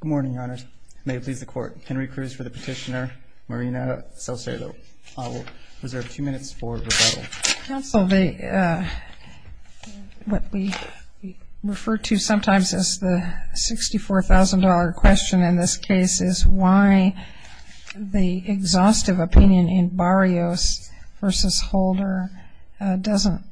Good morning, Your Honors. May it please the Court, Henry Cruz for the petitioner, Marina Saucedo-Arevalo, reserve two minutes for rebuttal. Counsel, what we refer to sometimes as the $64,000 question in this case is why the exhaustive opinion in Barrios v. Holder doesn't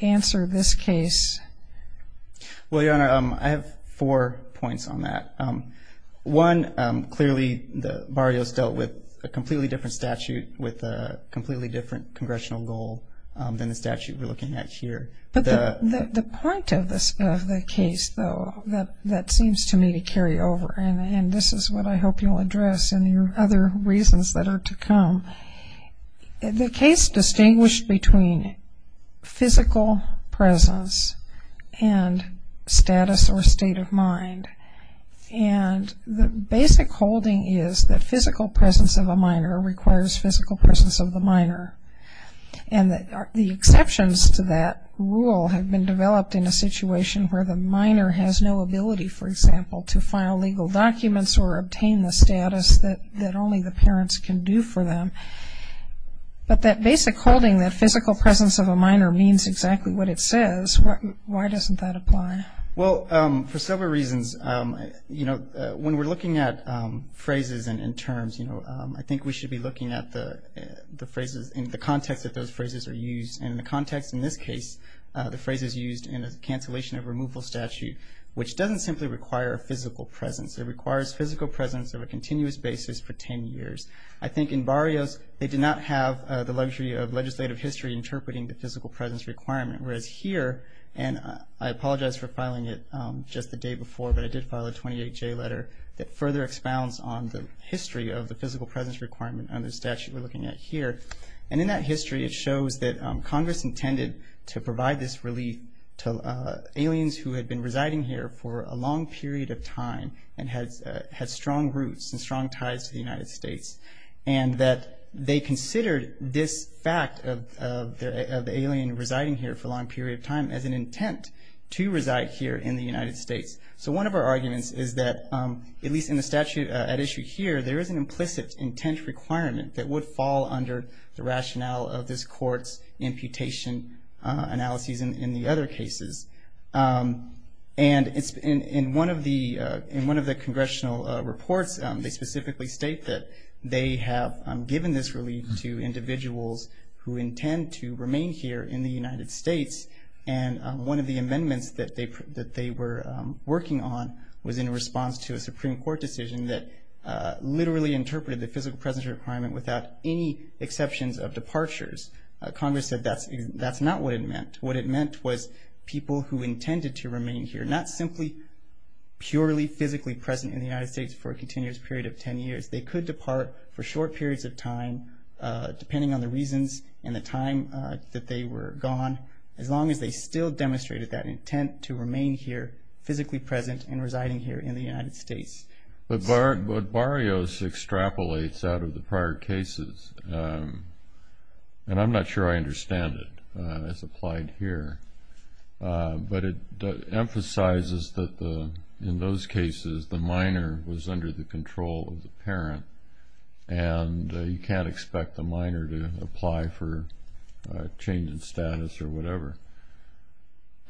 answer this case. Well, Your Honor, I have four points on that. One, clearly Barrios dealt with a completely different statute with a completely different congressional goal than the statute we're looking at here. But the point of the case, though, that seems to me to carry over, and this is what I hope you'll address in your other reasons that are to come, the case distinguished between physical presence and status or state of mind. And the basic holding is that physical presence of a minor requires physical presence of the minor. And the exceptions to that rule have been developed in a situation where the minor has no ability, for example, to file legal documents or obtain the status that only the parents can do for them. But that basic holding that physical presence of a minor means exactly what it says, why doesn't that apply? Well, for several reasons. You know, when we're looking at phrases and terms, you know, I think we should be looking at the phrases in the context that those phrases are used. And in the context in this case, the phrase is used in a cancellation of removal statute, which doesn't simply require a physical presence. It requires physical presence of a continuous basis for 10 years. I think in Barrios, they did not have the luxury of legislative history interpreting the physical presence requirement. Whereas here, and I apologize for filing it just the day before, but I did file a 28J letter that further expounds on the history of the physical presence requirement under the statute we're looking at here. And in that history, it shows that Congress intended to provide this relief to aliens who had been residing here for a long period of time and had strong roots and strong ties to the United States. And that they considered this fact of the alien residing here for a long period of time as an intent to reside here in the United States. So one of our arguments is that, at least in the statute at issue here, there is an implicit intent requirement that would fall under the rationale of this court's imputation analyses in the other cases. And in one of the congressional reports, they specifically state that they have given this relief to individuals who intend to remain here in the United States. And one of the amendments that they were working on was in response to a Supreme Court decision that literally interpreted the physical presence requirement without any exceptions of departures. Congress said that's not what it meant. What it meant was people who intended to remain here, not simply purely physically present in the United States for a continuous period of 10 years. They could depart for short periods of time, depending on the reasons and the time that they were gone, as long as they still demonstrated that intent to remain here physically present and residing here in the United States. But Barrios extrapolates out of the prior cases. And I'm not sure I understand it as applied here. But it emphasizes that, in those cases, the minor was under the control of the parent. And you can't expect the minor to apply for a change in status or whatever.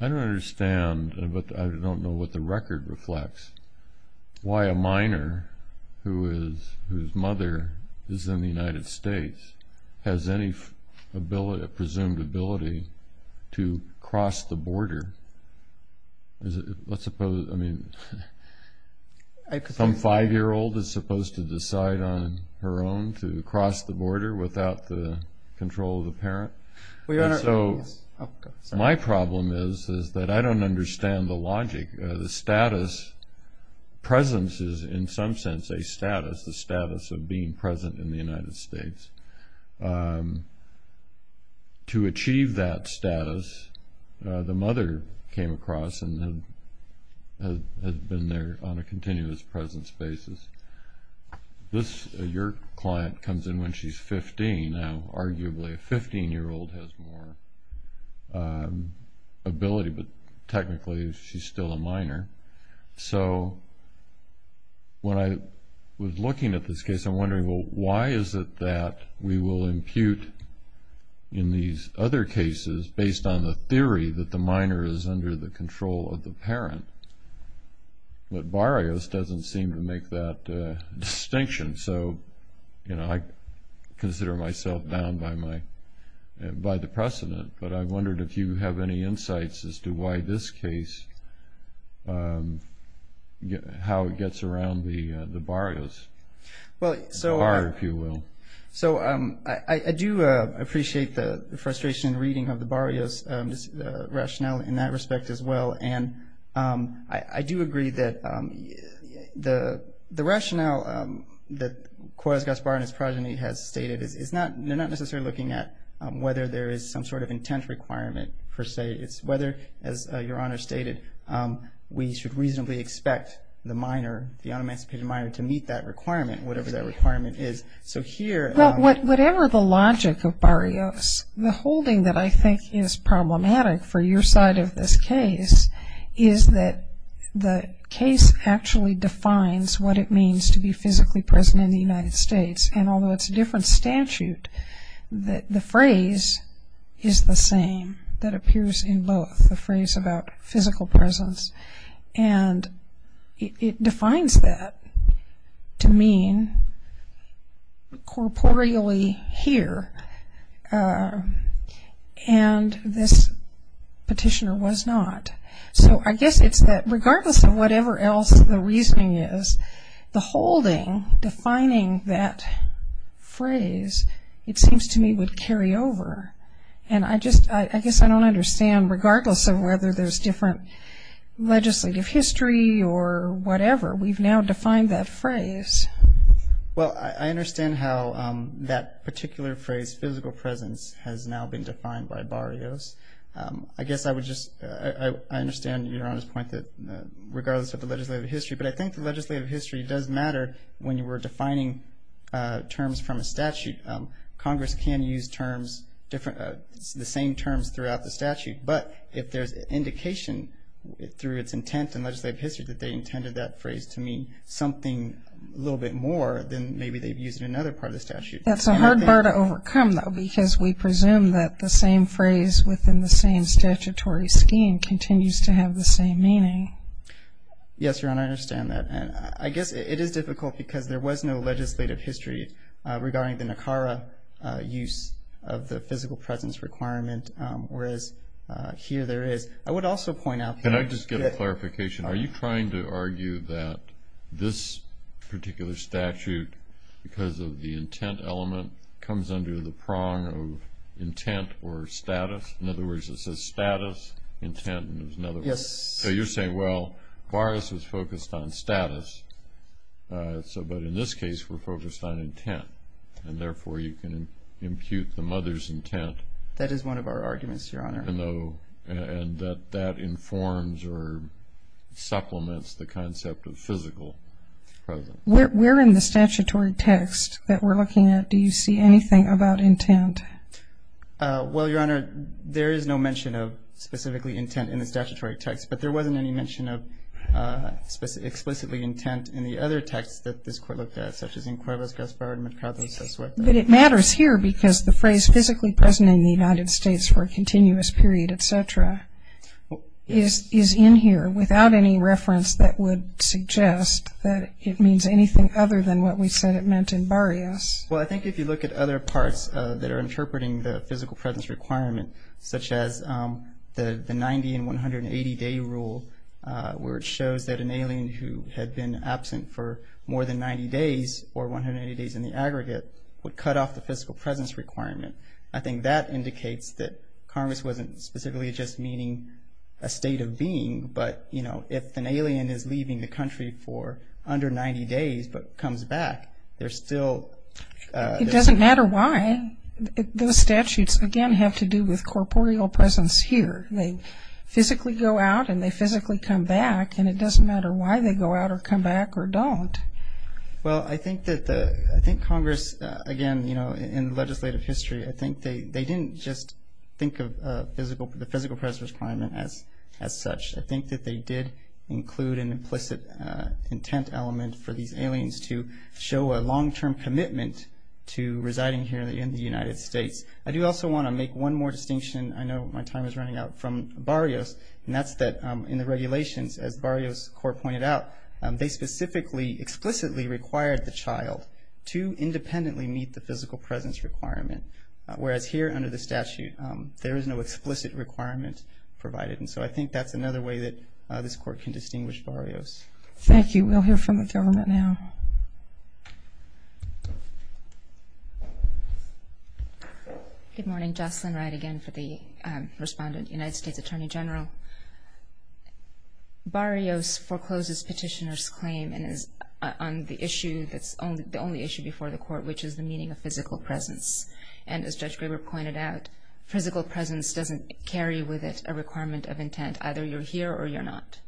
I don't understand, but I don't know what the record reflects, why a minor whose mother is in the United States has any presumed ability to cross the border. Let's suppose, I mean, some five-year-old is supposed to decide on her own to cross the border without the control of the parent. So my problem is that I don't understand the logic, the status. Presence is, in some sense, a status, the status of being present in the United States. To achieve that status, the mother came across and had been there on a continuous presence basis. This, your client, comes in when she's 15. Now, arguably, a 15-year-old has more ability, but technically she's still a minor. So when I was looking at this case, I'm wondering, well, why is it that we will impute, in these other cases, based on the theory that the minor is under the control of the parent? But Barrios doesn't seem to make that distinction. So, you know, I consider myself bound by the precedent, but I wondered if you have any insights as to why this case, how it gets around the Barrios, the bar, if you will. So I do appreciate the frustration in reading of the Barrios rationale in that respect as well, and I do agree that the rationale that Coriolis-Gaspar and his progeny has stated, they're not necessarily looking at whether there is some sort of intent requirement per se. It's whether, as your Honor stated, we should reasonably expect the minor, the unemancipated minor, to meet that requirement, whatever that requirement is. Well, whatever the logic of Barrios, the holding that I think is problematic for your side of this case is that the case actually defines what it means to be physically present in the United States, and although it's a different statute, the phrase is the same that appears in both, the phrase about physical presence, and it defines that to mean corporeally here, and this petitioner was not. So I guess it's that regardless of whatever else the reasoning is, the holding defining that phrase, it seems to me, would carry over, and I guess I don't understand, regardless of whether there's different legislative history or whatever, we've now defined that phrase. Well, I understand how that particular phrase, physical presence, has now been defined by Barrios. I guess I would just, I understand your Honor's point that regardless of the legislative history, but I think the legislative history does matter when you were defining terms from a statute. I mean, Congress can use terms, the same terms throughout the statute, but if there's indication through its intent and legislative history that they intended that phrase to mean something a little bit more, then maybe they've used it in another part of the statute. That's a hard bar to overcome, though, because we presume that the same phrase within the same statutory scheme continues to have the same meaning. Yes, Your Honor, I understand that. I guess it is difficult because there was no legislative history regarding the NACARA use of the physical presence requirement, whereas here there is. I would also point out that- Can I just get a clarification? Are you trying to argue that this particular statute, because of the intent element, comes under the prong of intent or status? In other words, it says status, intent, in other words. Yes. So you're saying, well, Baras was focused on status, but in this case we're focused on intent, and therefore you can impute the mother's intent. That is one of our arguments, Your Honor. And that informs or supplements the concept of physical presence. Where in the statutory text that we're looking at do you see anything about intent? Well, Your Honor, there is no mention of specifically intent in the statutory text, but there wasn't any mention of explicitly intent in the other texts that this Court looked at, such as in Cuevas, Gaspar, and Mercado, César. But it matters here because the phrase, physically present in the United States for a continuous period, et cetera, is in here without any reference that would suggest that it means anything other than what we said it meant in Baras. Well, I think if you look at other parts that are interpreting the physical presence requirement, such as the 90 and 180-day rule, where it shows that an alien who had been absent for more than 90 days or 180 days in the aggregate would cut off the physical presence requirement, I think that indicates that Congress wasn't specifically just meaning a state of being, but, you know, if an alien is leaving the country for under 90 days but comes back, there's still ‑‑ It doesn't matter why. Those statutes, again, have to do with corporeal presence here. They physically go out and they physically come back, and it doesn't matter why they go out or come back or don't. Well, I think Congress, again, you know, in legislative history, I think they didn't just think of the physical presence requirement as such. I think that they did include an implicit intent element for these aliens to show a long-term commitment to residing here in the United States. I do also want to make one more distinction. I know my time is running out from Barrios, and that's that in the regulations, as Barrios' court pointed out, they specifically explicitly required the child to independently meet the physical presence requirement, whereas here under the statute there is no explicit requirement provided. And so I think that's another way that this court can distinguish Barrios. Thank you. We'll hear from the government now. Good morning. Jocelyn Wright again for the respondent, United States Attorney General. Barrios forecloses petitioner's claim on the issue that's the only issue before the court, which is the meaning of physical presence. And as Judge Graber pointed out, physical presence doesn't carry with it a requirement of intent. Either you're here or you're not.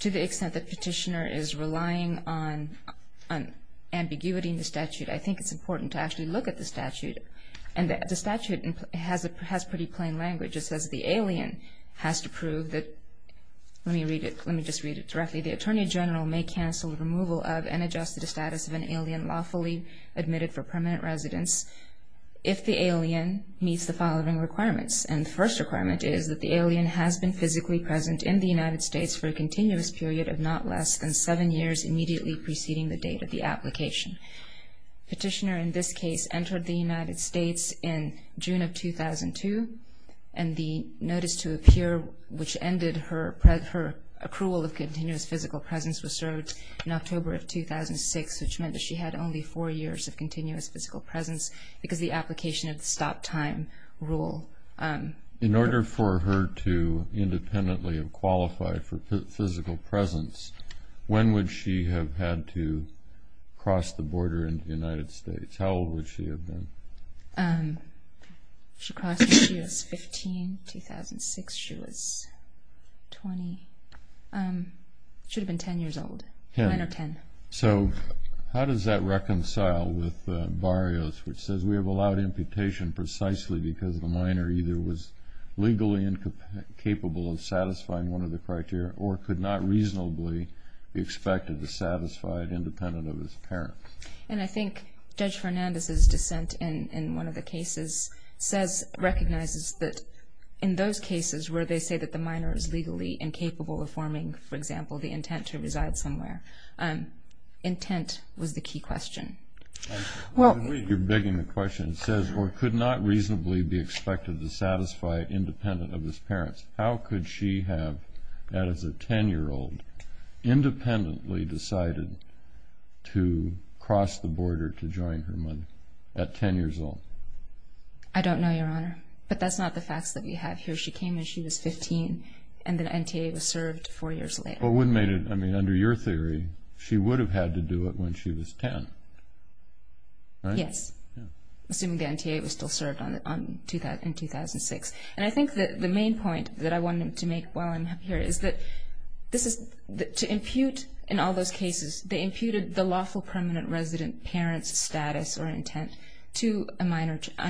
To the extent that petitioner is relying on ambiguity in the statute, I think it's important to actually look at the statute. And the statute has pretty plain language. It says the alien has to prove that, let me just read it directly, the attorney general may cancel the removal of and adjust the status of an alien lawfully admitted for permanent residence if the alien meets the following requirements. And the first requirement is that the alien has been physically present in the United States for a continuous period of not less than seven years, immediately preceding the date of the application. Petitioner in this case entered the United States in June of 2002, and the notice to appear which ended her approval of continuous physical presence was served in October of 2006, which meant that she had only four years of continuous physical presence because of the application of the stop time rule. In order for her to independently qualify for physical presence, when would she have had to cross the border into the United States? How old would she have been? She crossed when she was 15, 2006. She was 20. She would have been 10 years old. Nine or 10. So how does that reconcile with Barrios, which says we have allowed imputation precisely because the minor either was legally incapable of satisfying one of the criteria or could not reasonably be expected to satisfy it independent of his parents. And I think Judge Fernandez's dissent in one of the cases recognizes that in those cases where they say that the minor is legally incapable of forming, for example, the intent to reside somewhere, intent was the key question. I believe you're begging the question. It says or could not reasonably be expected to satisfy it independent of his parents. How could she have, as a 10-year-old, independently decided to cross the border to join her mother at 10 years old? I don't know, Your Honor, but that's not the facts that we have here. She came when she was 15, and the NTA was served four years later. Under your theory, she would have had to do it when she was 10, right? Yes, assuming the NTA was still served in 2006. And I think the main point that I wanted to make while I'm up here is that to impute, in all those cases, they imputed the lawful permanent resident parent's status or intent to an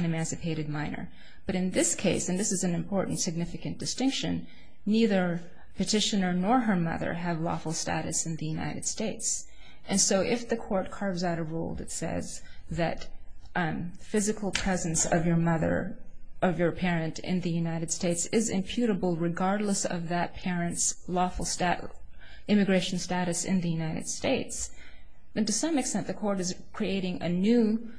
emancipated minor. But in this case, and this is an important, significant distinction, neither petitioner nor her mother have lawful status in the United States. And so if the court carves out a rule that says that physical presence of your mother, of your parent in the United States is imputable regardless of that parent's lawful immigration status in the United States, then to some extent the court is creating a new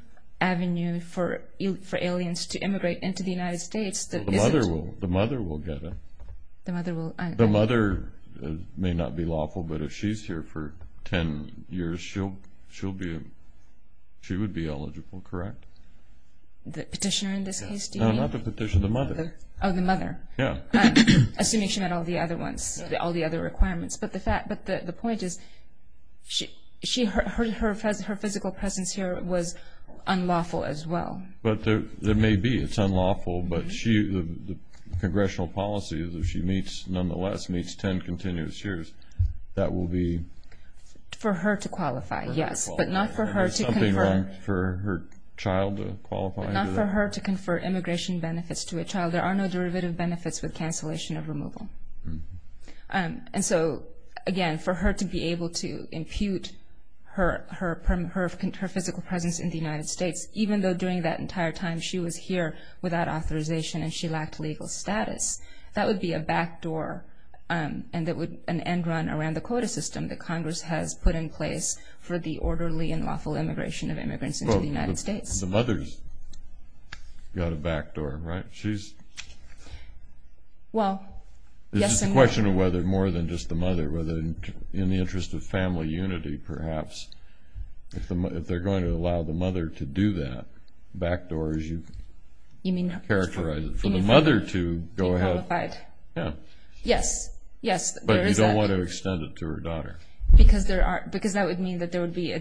avenue for aliens to immigrate into the United States. The mother will get it. The mother may not be lawful, but if she's here for 10 years, she would be eligible, correct? The petitioner in this case, do you mean? No, not the petitioner, the mother. Oh, the mother. Yeah. Assuming she met all the other requirements. But the point is her physical presence here was unlawful as well. But there may be. It's unlawful, but the congressional policy is if she meets, nonetheless meets 10 continuous years, that will be? For her to qualify, yes. But not for her to confer. Something wrong for her child to qualify? But not for her to confer immigration benefits to a child. There are no derivative benefits with cancellation of removal. And so, again, for her to be able to impute her physical presence in the United States, even though during that entire time she was here without authorization and she lacked legal status, that would be a backdoor and an end run around the quota system that Congress has put in place for the orderly and lawful immigration of immigrants into the United States. The mother's got a backdoor, right? She's. Well, yes and no. This is a question of whether more than just the mother, whether in the interest of family unity perhaps, if they're going to allow the mother to do that, backdoor as you've characterized it. For the mother to go ahead. Be qualified. Yeah. Yes, yes. But you don't want to extend it to her daughter. Because that would mean that there would be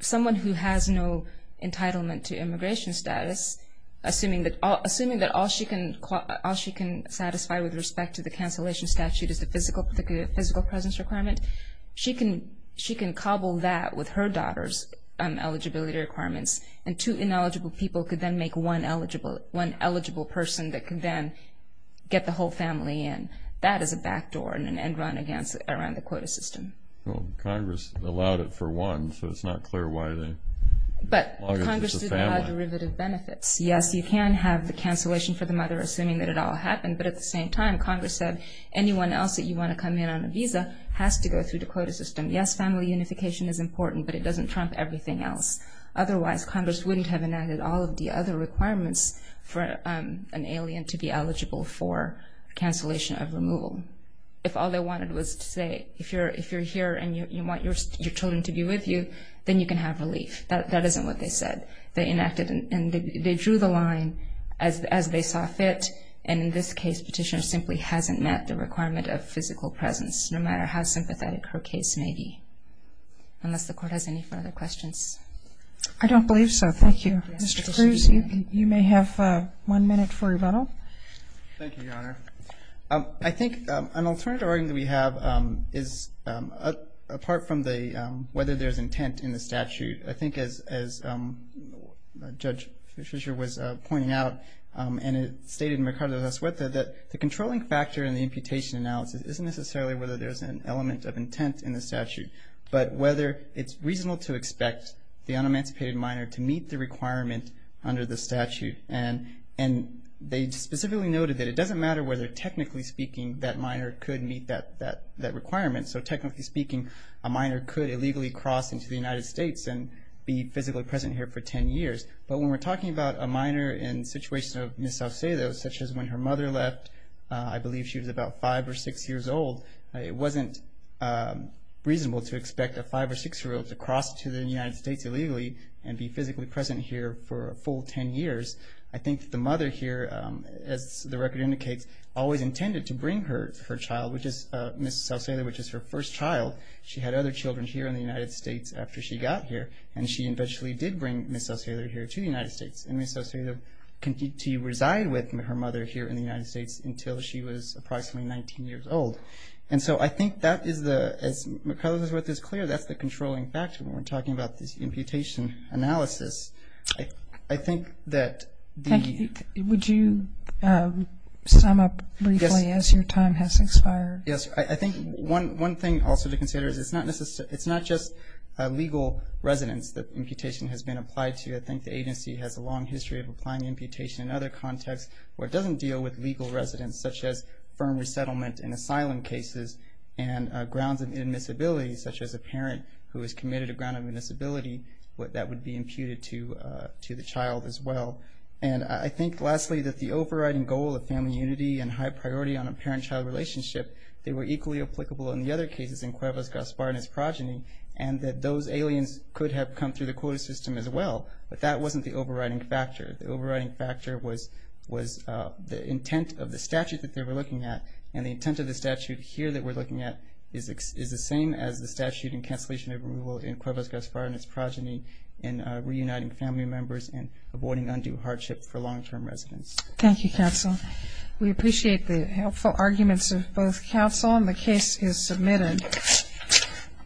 someone who has no entitlement to immigration status, assuming that all she can satisfy with respect to the cancellation statute is the physical presence requirement. She can cobble that with her daughter's eligibility requirements, and two ineligible people could then make one eligible person that could then get the whole family in. That is a backdoor and an end run around the quota system. Well, Congress allowed it for one, so it's not clear why they allowed it for the family. Yes, you can have the cancellation for the mother, assuming that it all happened. But at the same time, Congress said anyone else that you want to come in on a visa has to go through the quota system. Yes, family unification is important, but it doesn't trump everything else. Otherwise, Congress wouldn't have enacted all of the other requirements for an alien to be eligible for cancellation of removal. If all they wanted was to say, if you're here and you want your children to be with you, then you can have relief. That isn't what they said. They enacted and they drew the line as they saw fit. And in this case, Petitioner simply hasn't met the requirement of physical presence, no matter how sympathetic her case may be, unless the Court has any further questions. I don't believe so. Thank you. Mr. Cruz, you may have one minute for rebuttal. Thank you, Your Honor. I think an alternative argument we have is, apart from whether there's intent in the statute, I think as Judge Fischer was pointing out, and it stated in Mercado de Azueta, that the controlling factor in the imputation analysis isn't necessarily whether there's an element of intent in the statute, but whether it's reasonable to expect the unemancipated minor to meet the requirement under the statute. And they specifically noted that it doesn't matter whether, technically speaking, that minor could meet that requirement. So technically speaking, a minor could illegally cross into the United States and be physically present here for ten years. But when we're talking about a minor in the situation of Ms. Saucedo, such as when her mother left, I believe she was about five or six years old, it wasn't reasonable to expect a five or six-year-old to cross to the United States illegally and be physically present here for a full ten years. I think the mother here, as the record indicates, always intended to bring her child, which is Ms. Saucedo, which is her first child. She had other children here in the United States after she got here, and she eventually did bring Ms. Saucedo here to the United States, and Ms. Saucedo continued to reside with her mother here in the United States until she was approximately 19 years old. And so I think that is, as Mercado de Azueta is clear, that's the controlling factor when we're talking about this imputation analysis. I think that the... Would you sum up briefly as your time has expired? Yes. I think one thing also to consider is it's not just legal residence that imputation has been applied to. I think the agency has a long history of applying imputation in other contexts where it doesn't deal with legal residence, such as firm resettlement in asylum cases, and grounds of inadmissibility, such as a parent who has committed a ground of inadmissibility, that would be imputed to the child as well. And I think, lastly, that the overriding goal of family unity and high priority on a parent-child relationship, they were equally applicable in the other cases in Cuevas-Gaspar and its progeny, and that those aliens could have come through the quota system as well, but that wasn't the overriding factor. The overriding factor was the intent of the statute that they were looking at, and the intent of the statute here that we're looking at is the same as the statute in cancellation of removal in Cuevas-Gaspar and its progeny in reuniting family members and avoiding undue hardship for long-term residents. Thank you, counsel. We appreciate the helpful arguments of both counsel, and the case is submitted.